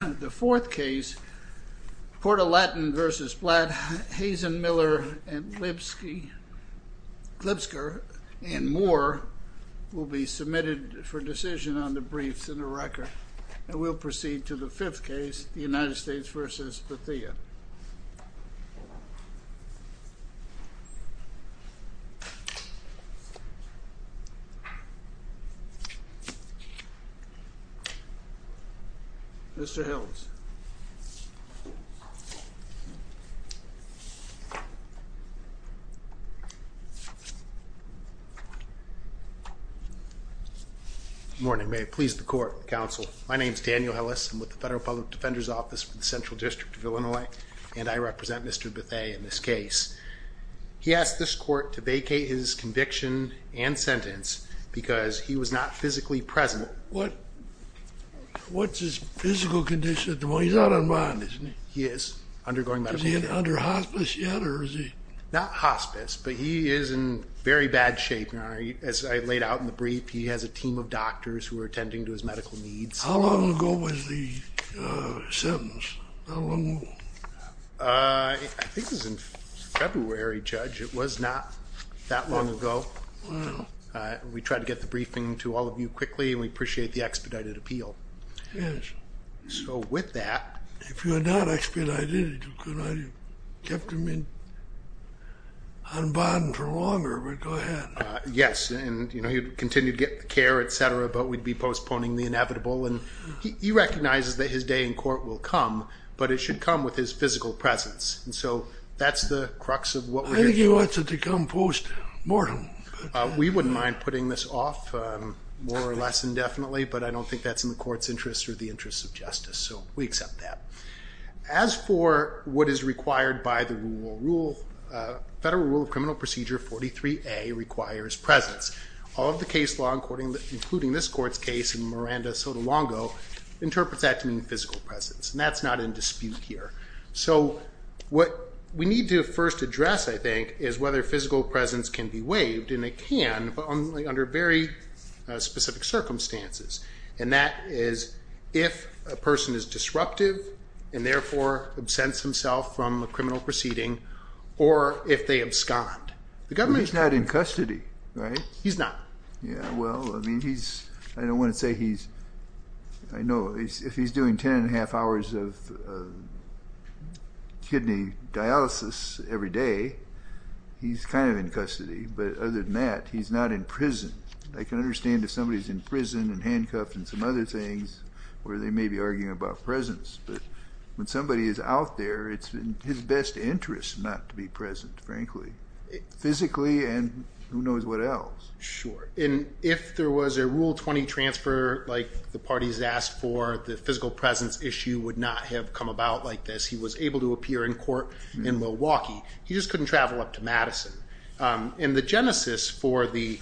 The fourth case, Port-A-Latin v. Blatt, Hazen, Miller, Lipsker, and Moore will be submitted for decision on the briefs in the record. And we'll proceed to the fifth case, the United States v. Bethea. Mr. Hills. Good morning. May it please the court, counsel. My name is Daniel Hillis. I'm with the Federal Public Defender's Office for the Central District of Illinois, and I represent Mr. Bethea in this case. He asked this court to vacate his conviction and sentence because he was not physically present. What's his physical condition at the moment? He's out of mind, isn't he? He is undergoing medical treatment. Is he under hospice yet, or is he... Not hospice, but he is in very bad shape. As I laid out in the brief, he has a team of doctors who are attending to his medical needs. How long ago was the sentence? How long ago? I think it was in February, Judge. It was not that long ago. We tried to get the briefing to all of you quickly, and we appreciate the expedited appeal. Yes. So with that... If you had not expedited it, you could have kept him on bond for longer, but go ahead. Yes, and he'd continue to get the care, etc., but we'd be postponing the inevitable. He recognizes that his day in court will come, but it should come with his physical presence. So that's the crux of what we're here for. I think he wants it to come postmortem. We wouldn't mind putting this off, more or less indefinitely, but I don't think that's in the court's interest or the interest of justice, so we accept that. As for what is required by the Federal Rule of Criminal Procedure 43A requires presence. All of the case law, including this court's case and Miranda's so long ago, interprets that to mean physical presence, and that's not in dispute here. So what we need to first address, I think, is whether physical presence can be waived, and it can, but only under very specific circumstances. And that is if a person is disruptive, and therefore absents himself from a criminal proceeding, or if they abscond. He's not in custody, right? He's not. Yeah, well, I mean, he's, I don't want to say he's, I know, if he's doing ten and a half hours of kidney dialysis every day, he's kind of in custody, but other than that, he's not in prison. I can understand if somebody's in prison and handcuffed and some other things, where they may be arguing about presence, but when somebody is out there, it's in his best interest not to be present, frankly. Physically and who knows what else. Sure, and if there was a Rule 20 transfer, like the parties asked for, the physical presence issue would not have come about like this. He was able to appear in court in Milwaukee. He just couldn't travel up to Madison. And the genesis for the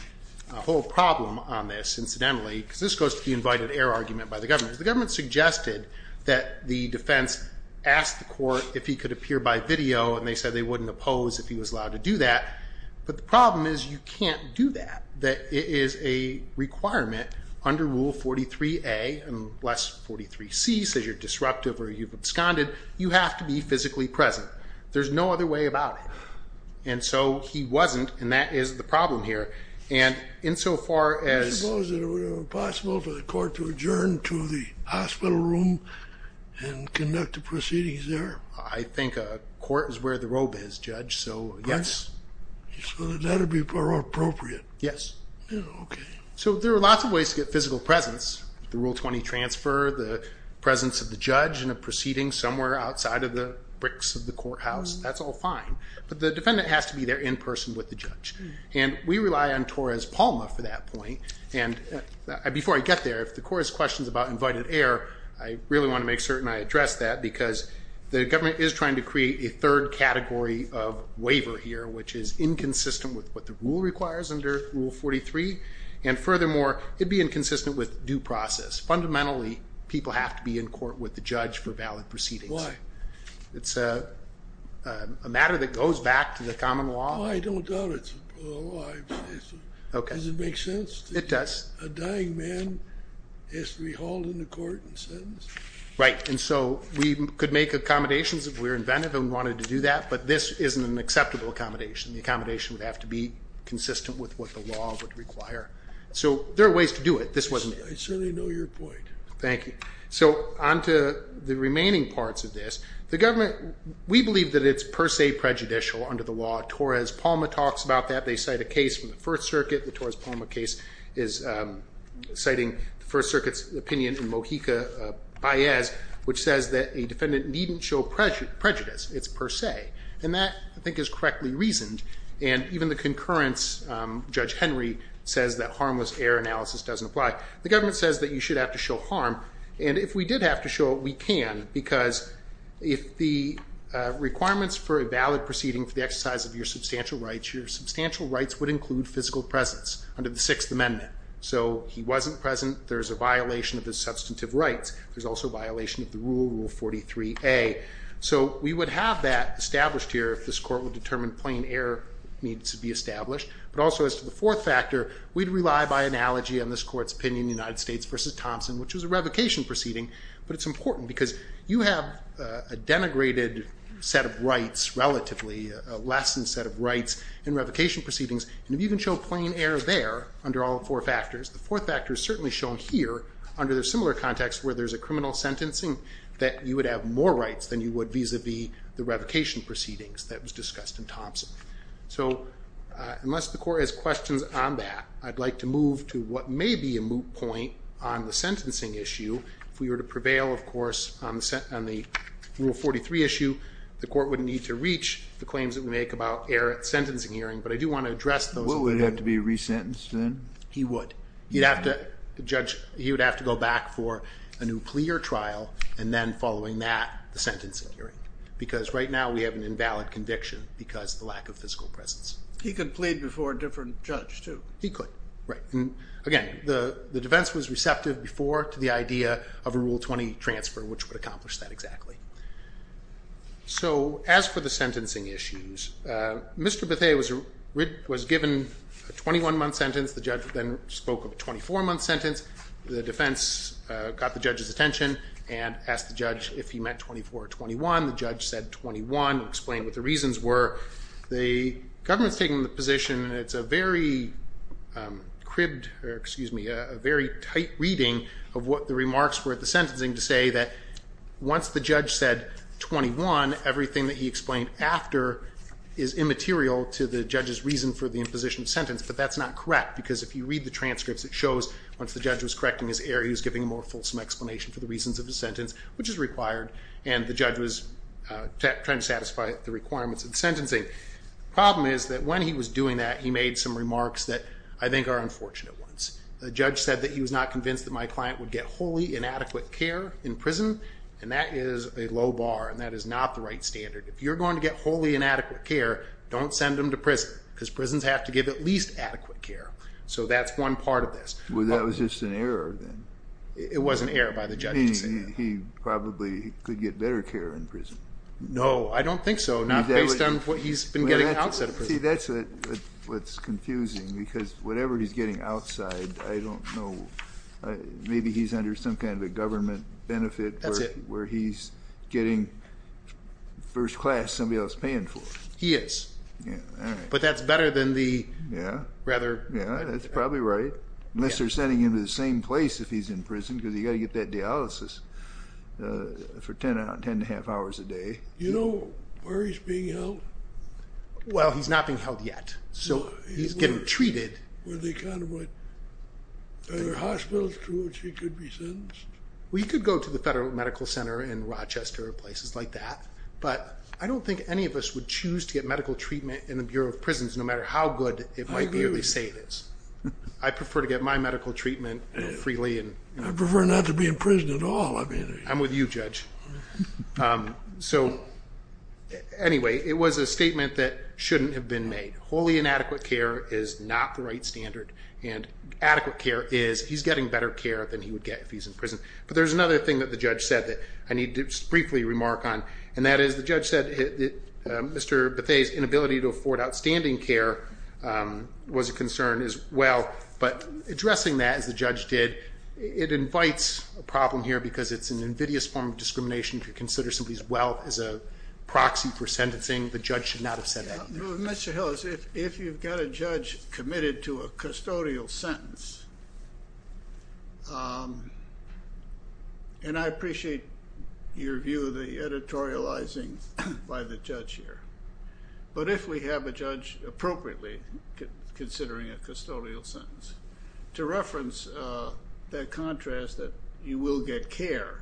whole problem on this, incidentally, because this goes to the invited error argument by the government. The government suggested that the defense ask the court if he could appear by video, and they said they wouldn't oppose if he was allowed to do that. But the problem is you can't do that. It is a requirement under Rule 43A, and less 43C, says you're disruptive or you've absconded. You have to be physically present. There's no other way about it. And so he wasn't, and that is the problem here. And insofar as- I suppose it would have been possible for the court to adjourn to the hospital room and conduct the proceedings there. I think a court is where the robe is, Judge, so yes. So that would be more appropriate. Yes. Yeah, okay. So there are lots of ways to get physical presence. The Rule 20 transfer, the presence of the judge in a proceeding somewhere outside of the bricks of the courthouse, that's all fine. But the defendant has to be there in person with the judge. And we rely on Torres-Palma for that point. And before I get there, if the court has questions about invited error, I really want to make certain I address that. Because the government is trying to create a third category of waiver here, which is inconsistent with what the rule requires under Rule 43. And furthermore, it would be inconsistent with due process. Fundamentally, people have to be in court with the judge for valid proceedings. Why? It's a matter that goes back to the common law. I don't doubt it's a common law. Okay. Does it make sense? It does. A dying man has to be hauled into court and sentenced? Right. And so we could make accommodations if we were inventive and wanted to do that. But this isn't an acceptable accommodation. The accommodation would have to be consistent with what the law would require. So there are ways to do it. I certainly know your point. Thank you. So on to the remaining parts of this. The government, we believe that it's per se prejudicial under the law. Torres-Palma talks about that. They cite a case from the First Circuit. The Torres-Palma case is citing the First Circuit's opinion in Mojica-Payez, which says that a defendant needn't show prejudice. It's per se. And that, I think, is correctly reasoned. And even the concurrence, Judge Henry says that harmless error analysis doesn't apply. The government says that you should have to show harm. And if we did have to show it, we can. Because if the requirements for a valid proceeding for the exercise of your substantial rights, your substantial rights would include physical presence under the Sixth Amendment. So he wasn't present. There's a violation of his substantive rights. There's also a violation of the rule, Rule 43A. So we would have that established here if this Court would determine plain error needs to be established. But also, as to the fourth factor, we'd rely by analogy on this Court's opinion in the United States v. Thompson, which was a revocation proceeding. But it's important because you have a denigrated set of rights relatively, a lessened set of rights in revocation proceedings. And if you can show plain error there under all four factors, the fourth factor is certainly shown here under the similar context where there's a criminal sentencing that you would have more rights than you would vis-a-vis the revocation proceedings that was discussed in Thompson. So unless the Court has questions on that, I'd like to move to what may be a moot point on the sentencing issue. If we were to prevail, of course, on the Rule 43 issue, the Court wouldn't need to reach. The claims that we make about error at sentencing hearing, but I do want to address those. What would have to be resentenced then? He would. He'd have to, the judge, he would have to go back for a new plea or trial, and then following that, the sentencing hearing. Because right now we have an invalid conviction because of the lack of physical presence. He could plead before a different judge, too. He could, right. Again, the defense was receptive before to the idea of a Rule 20 transfer, which would accomplish that exactly. So as for the sentencing issues, Mr. Bethea was given a 21-month sentence. The judge then spoke of a 24-month sentence. The defense got the judge's attention and asked the judge if he meant 24 or 21. The judge said 21 and explained what the reasons were. The government's taking the position, and it's a very cribbed, or excuse me, a very tight reading of what the remarks were at the sentencing, and it's interesting to say that once the judge said 21, everything that he explained after is immaterial to the judge's reason for the imposition sentence, but that's not correct because if you read the transcripts, it shows once the judge was correcting his error, he was giving a more fulsome explanation for the reasons of his sentence, which is required, and the judge was trying to satisfy the requirements of the sentencing. The problem is that when he was doing that, he made some remarks that I think are unfortunate ones. The judge said that he was not convinced that my client would get wholly inadequate care in prison, and that is a low bar, and that is not the right standard. If you're going to get wholly inadequate care, don't send him to prison because prisons have to give at least adequate care, so that's one part of this. Well, that was just an error then. It was an error by the judge to say that. He probably could get better care in prison. No, I don't think so, not based on what he's been getting outside of prison. See, that's what's confusing because whatever he's getting outside, I don't know. Maybe he's under some kind of a government benefit where he's getting first class somebody else paying for. He is. Yeah, all right. But that's better than the rather... Yeah, that's probably right, unless they're sending him to the same place if he's in prison because you've got to get that dialysis for 10 and a half hours a day. Do you know where he's being held? Well, he's not being held yet, so he's getting treated. Are there hospitals to which he could be sentenced? Well, he could go to the Federal Medical Center in Rochester or places like that, but I don't think any of us would choose to get medical treatment in the Bureau of Prisons no matter how good it might be or they say it is. I prefer to get my medical treatment freely. I prefer not to be in prison at all. I'm with you, Judge. So anyway, it was a statement that shouldn't have been made. Wholly inadequate care is not the right standard, and adequate care is he's getting better care than he would get if he's in prison. But there's another thing that the judge said that I need to briefly remark on, and that is the judge said Mr. Bethea's inability to afford outstanding care was a concern as well. But addressing that, as the judge did, it invites a problem here because it's an invidious form of discrimination to consider somebody's wealth as a proxy for sentencing. The judge should not have said that. Mr. Hillis, if you've got a judge committed to a custodial sentence, and I appreciate your view of the editorializing by the judge here, but if we have a judge appropriately considering a custodial sentence, to reference that contrast that you will get care,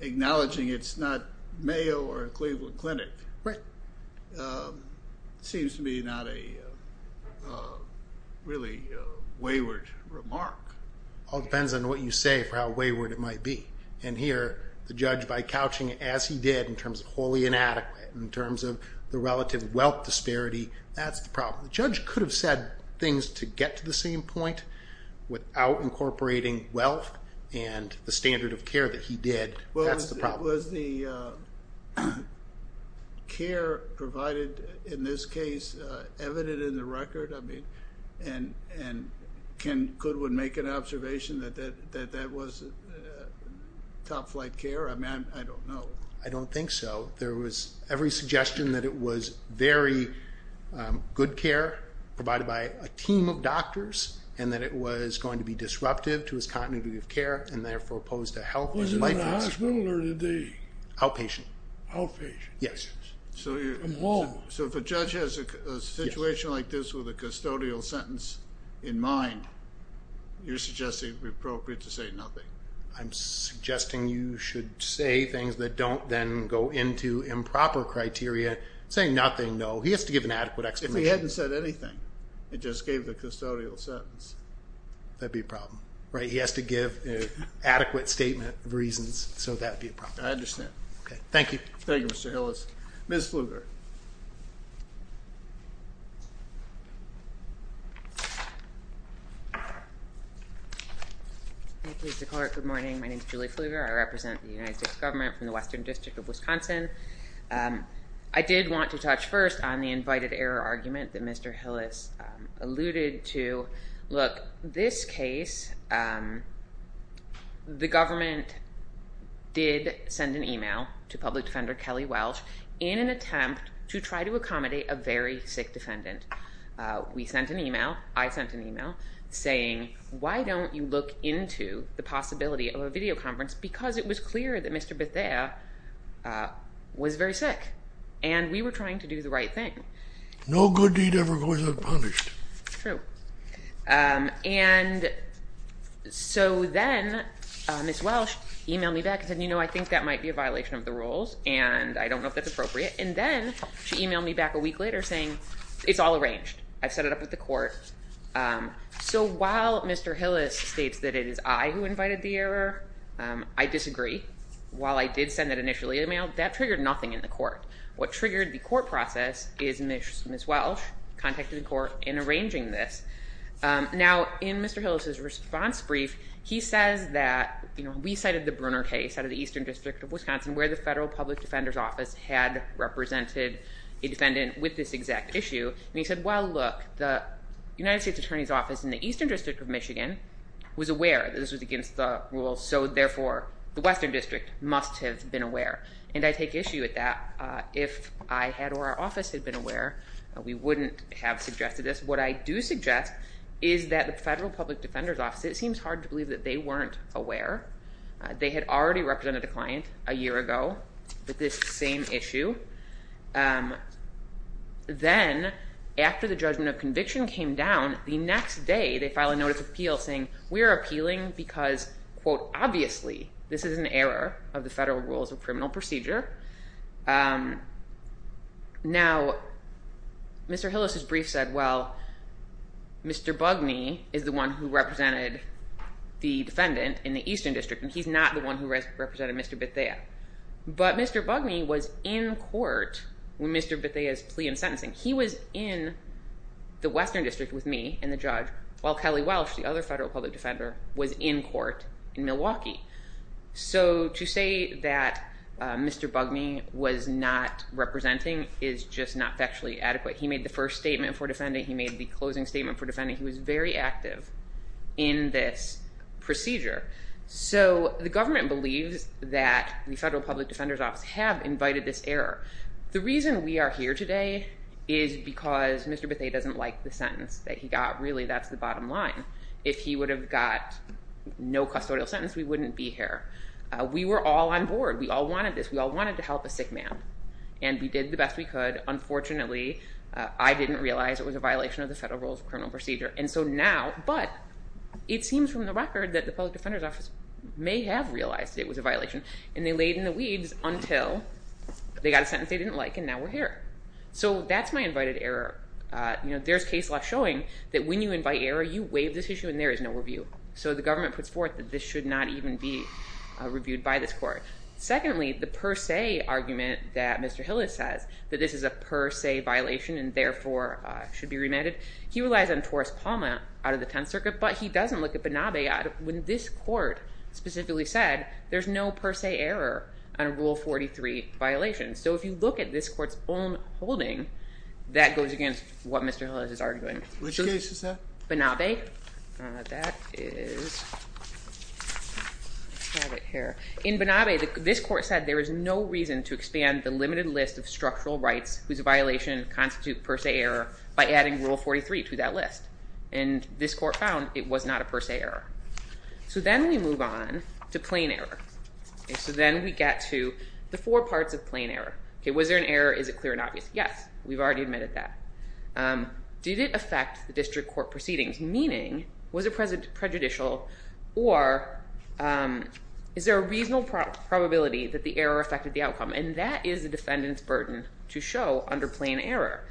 acknowledging it's not Mayo or a Cleveland clinic, seems to me not a really wayward remark. It all depends on what you say for how wayward it might be. And here, the judge, by couching it as he did, in terms of wholly inadequate, in terms of the relative wealth disparity, that's the problem. The judge could have said things to get to the same point without incorporating wealth and the standard of care that he did. That's the problem. Was the care provided in this case evident in the record? And could one make an observation that that was top-flight care? I don't know. I don't think so. There was every suggestion that it was very good care provided by a team of doctors and that it was going to be disruptive to his continuity of care and therefore pose a health and life risk. Was it in the hospital or did they? Outpatient. Outpatient. Yes. From home. So if a judge has a situation like this with a custodial sentence in mind, you're suggesting it would be appropriate to say nothing. I'm suggesting you should say things that don't then go into improper criteria. Saying nothing, no. He has to give an adequate explanation. If he hadn't said anything and just gave the custodial sentence. That would be a problem. Right? He has to give an adequate statement of reasons, so that would be a problem. I understand. Okay. Thank you. Thank you, Mr. Hillis. Ms. Flugert. Thank you, Mr. Clerk. Good morning. My name is Julie Flugert. I represent the United States Government from the Western District of Wisconsin. I did want to touch first on the invited error argument that Mr. Hillis alluded to. This case, the government did send an email to public defender Kelly Welsh in an attempt to try to accommodate a very sick defendant. We sent an email. I sent an email saying, why don't you look into the possibility of a video conference? Because it was clear that Mr. Bethea was very sick, and we were trying to do the right thing. No good deed ever goes unpunished. True. And so then Ms. Welsh emailed me back and said, you know, I think that might be a violation of the rules, and I don't know if that's appropriate. And then she emailed me back a week later saying it's all arranged. I've set it up with the court. So while Mr. Hillis states that it is I who invited the error, I disagree. While I did send that initial email, that triggered nothing in the court. What triggered the court process is Ms. Welsh contacted the court in arranging this. Now, in Mr. Hillis' response brief, he says that, you know, we cited the Brunner case out of the Eastern District of Wisconsin where the Federal Public Defender's Office had represented a defendant with this exact issue. And he said, well, look, the United States Attorney's Office in the Eastern District of Michigan was aware that this was against the rules, so therefore the Western District must have been aware. And I take issue with that. If I had or our office had been aware, we wouldn't have suggested this. What I do suggest is that the Federal Public Defender's Office, it seems hard to believe that they weren't aware. They had already represented a client a year ago with this same issue. Then after the judgment of conviction came down, the next day they filed a notice of appeal saying we are appealing because, quote, Now, Mr. Hillis' brief said, well, Mr. Bugney is the one who represented the defendant in the Eastern District, and he's not the one who represented Mr. Bethea. But Mr. Bugney was in court when Mr. Bethea's plea in sentencing. He was in the Western District with me and the judge, while Kelly Welsh, the other Federal Public Defender, was in court in Milwaukee. So to say that Mr. Bugney was not representing is just not factually adequate. He made the first statement for defending. He made the closing statement for defending. He was very active in this procedure. So the government believes that the Federal Public Defender's Office have invited this error. The reason we are here today is because Mr. Bethea doesn't like the sentence that he got. Really, that's the bottom line. If he would have got no custodial sentence, we wouldn't be here. We were all on board. We all wanted this. We all wanted to help a sick man, and we did the best we could. Unfortunately, I didn't realize it was a violation of the Federal Rules of Criminal Procedure. And so now, but it seems from the record that the Public Defender's Office may have realized it was a violation, and they laid in the weeds until they got a sentence they didn't like, and now we're here. So that's my invited error. There's case law showing that when you invite error, you waive this issue, and there is no review. So the government puts forth that this should not even be reviewed by this court. Secondly, the per se argument that Mr. Hillis says, that this is a per se violation and therefore should be remanded, he relies on Torres-Palma out of the Tenth Circuit, but he doesn't look at Benabeyad when this court specifically said there's no per se error on Rule 43 violation. So if you look at this court's own holding, that goes against what Mr. Hillis is arguing. Which case is that? Benabey. That is, I have it here. In Benabey, this court said there is no reason to expand the limited list of structural rights whose violation constitutes per se error by adding Rule 43 to that list. And this court found it was not a per se error. So then we move on to plain error. So then we get to the four parts of plain error. Was there an error? Is it clear and obvious? Yes, we've already admitted that. Did it affect the district court proceedings? Meaning, was it prejudicial? Or is there a reasonable probability that the error affected the outcome? And that is the defendant's burden to show under plain error.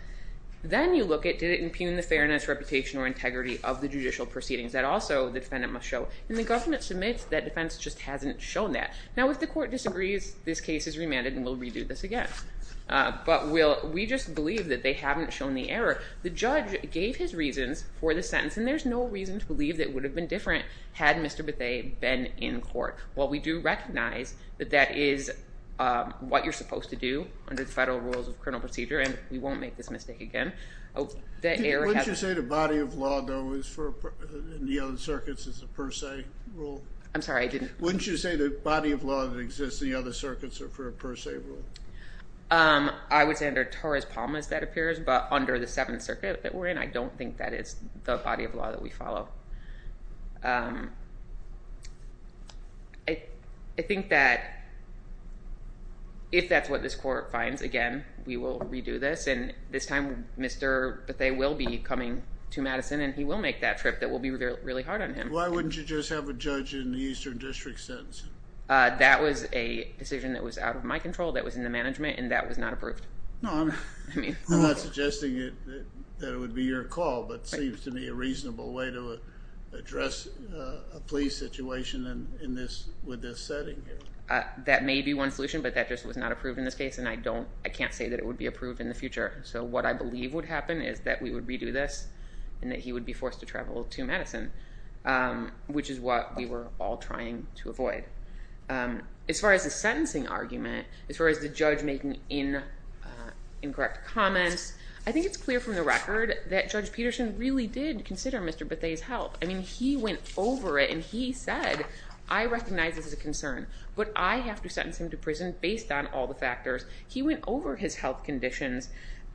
Then you look at, did it impugn the fairness, reputation, or integrity of the judicial proceedings? That also the defendant must show. And the government submits that defense just hasn't shown that. Now, if the court disagrees, this case is remanded and we'll redo this again. But we just believe that they haven't shown the error. The judge gave his reasons for the sentence, and there's no reason to believe that it would have been different had Mr. Bethea been in court. While we do recognize that that is what you're supposed to do under the federal rules of criminal procedure, and we won't make this mistake again. Wouldn't you say the body of law, though, in the other circuits is a per se rule? I'm sorry, I didn't. Wouldn't you say the body of law that exists in the other circuits are for a per se rule? I would say under Torres-Palmas that appears, but under the Seventh Circuit that we're in, I don't think that is the body of law that we follow. I think that if that's what this court finds, again, we will redo this, and this time Mr. Bethea will be coming to Madison and he will make that trip that will be really hard on him. Why wouldn't you just have a judge in the Eastern District sentence? That was a decision that was out of my control, that was in the management, and that was not approved. I'm not suggesting that it would be your call, but it seems to me a reasonable way to address a police situation with this setting. That may be one solution, but that just was not approved in this case, and I can't say that it would be approved in the future. So what I believe would happen is that we would redo this, and that he would be forced to travel to Madison, which is what we were all trying to avoid. As far as the sentencing argument, as far as the judge making incorrect comments, I think it's clear from the record that Judge Peterson really did consider Mr. Bethea's health. I mean, he went over it and he said, I recognize this is a concern, but I have to sentence him to prison based on all the factors. He went over his health conditions.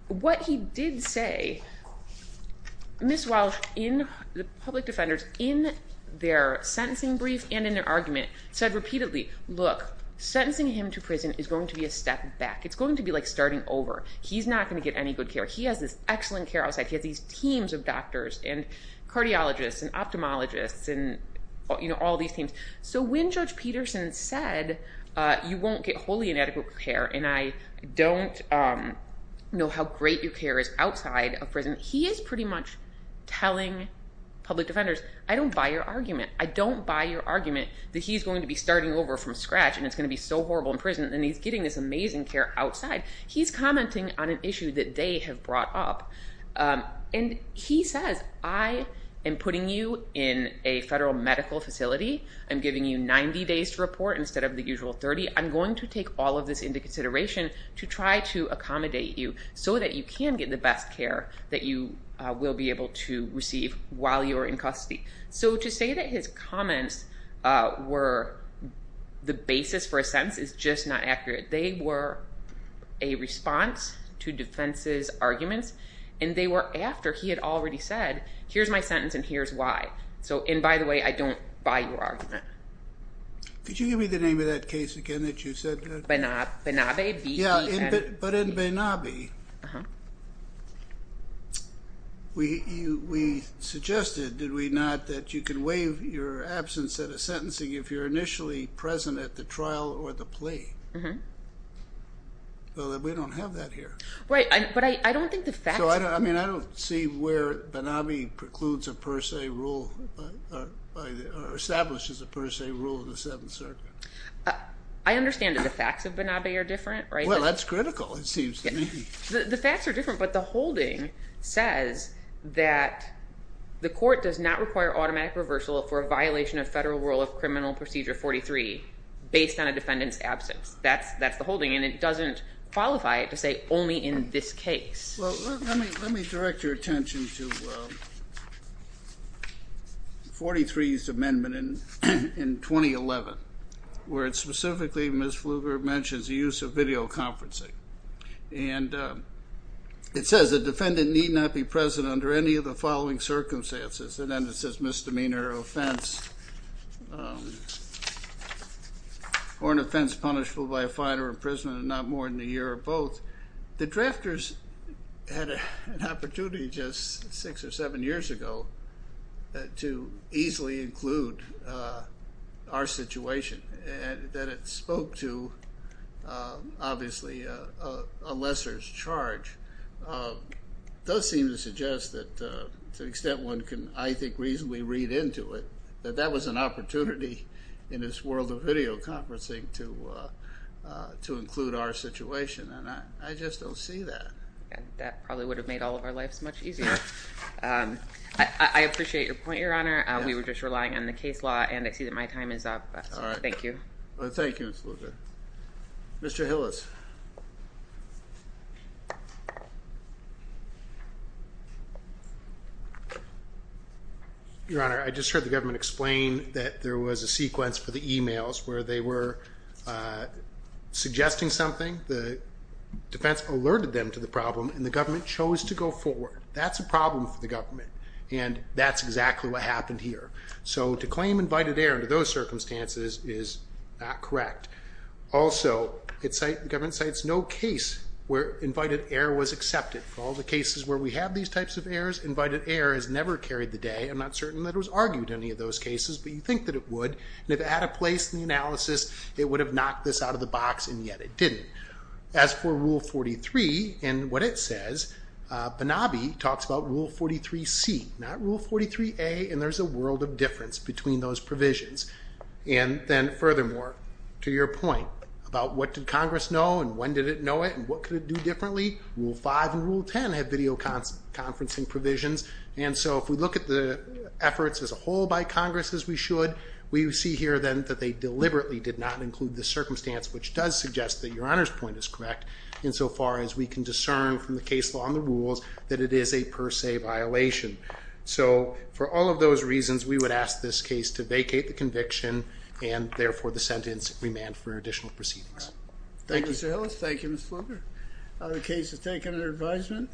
What he did say, Ms. Walsh, the public defenders, in their sentencing brief and in their argument, said repeatedly, look, sentencing him to prison is going to be a step back. It's going to be like starting over. He's not going to get any good care. He has this excellent care outside. He has these teams of doctors and cardiologists and ophthalmologists and all these teams. So when Judge Peterson said, you won't get wholly inadequate care, and I don't know how great your care is outside of prison, he is pretty much telling public defenders, I don't buy your argument. I don't buy your argument that he's going to be starting over from scratch, and it's going to be so horrible in prison, and he's getting this amazing care outside. He's commenting on an issue that they have brought up. And he says, I am putting you in a federal medical facility. I'm giving you 90 days to report instead of the usual 30. I'm going to take all of this into consideration to try to accommodate you so that you can get the best care that you will be able to receive while you're in custody. So to say that his comments were the basis for a sentence is just not accurate. They were a response to defense's arguments, and they were after he had already said, here's my sentence and here's why. And by the way, I don't buy your argument. Could you give me the name of that case again that you said that? Benabe. Yeah, but in Benabe, we suggested, did we not, that you can waive your absence at a sentencing if you're initially present at the trial or the plea. Well, we don't have that here. Right, but I don't think the facts... I mean, I don't see where Benabe precludes a per se rule or establishes a per se rule in the Seventh Circuit. I understand that the facts of Benabe are different, right? Well, that's critical, it seems to me. The facts are different, but the holding says that the court does not require automatic reversal for a violation of Federal Rule of Criminal Procedure 43 based on a defendant's absence. That's the holding, and it doesn't qualify it to say only in this case. Well, let me direct your attention to 43's amendment in 2011, where it specifically, Ms. Fluger, mentions the use of videoconferencing. And it says a defendant need not be present under any of the following circumstances. And then it says misdemeanor or offense or an offense punishable by a fine or imprisonment and not more than a year or both. The drafters had an opportunity just six or seven years ago to easily include our situation. And that it spoke to, obviously, a lesser's charge does seem to suggest that to the extent one can, I think, reasonably read into it, that that was an opportunity in this world of videoconferencing to include our situation. And I just don't see that. That probably would have made all of our lives much easier. I appreciate your point, Your Honor. We were just relying on the case law, and I see that my time is up. All right. Thank you. Thank you, Ms. Fluger. Mr. Hillis. Your Honor, I just heard the government explain that there was a sequence for the e-mails where they were suggesting something. The defense alerted them to the problem, and the government chose to go forward. That's a problem for the government, and that's exactly what happened here. So to claim invited error under those circumstances is not correct. Also, the government cites no case where invited error was accepted. For all the cases where we have these types of errors, invited error has never carried the day. I'm not certain that it was argued in any of those cases, but you'd think that it would. And if it had a place in the analysis, it would have knocked this out of the box, and yet it didn't. As for Rule 43 and what it says, Banabi talks about Rule 43C, not Rule 43A, and there's a world of difference between those provisions. And then, furthermore, to your point about what did Congress know and when did it know it and what could it do differently, Rule 5 and Rule 10 have videoconferencing provisions, and so if we look at the efforts as a whole by Congress, as we should, we see here then that they deliberately did not include the circumstance which does suggest that Your Honor's point is correct, insofar as we can discern from the case law and the rules that it is a per se violation. So for all of those reasons, we would ask this case to vacate the conviction, and therefore the sentence remand for additional proceedings. Thank you, Mr. Hillis. Thank you, Ms. Fluger. The case is taken under advisement.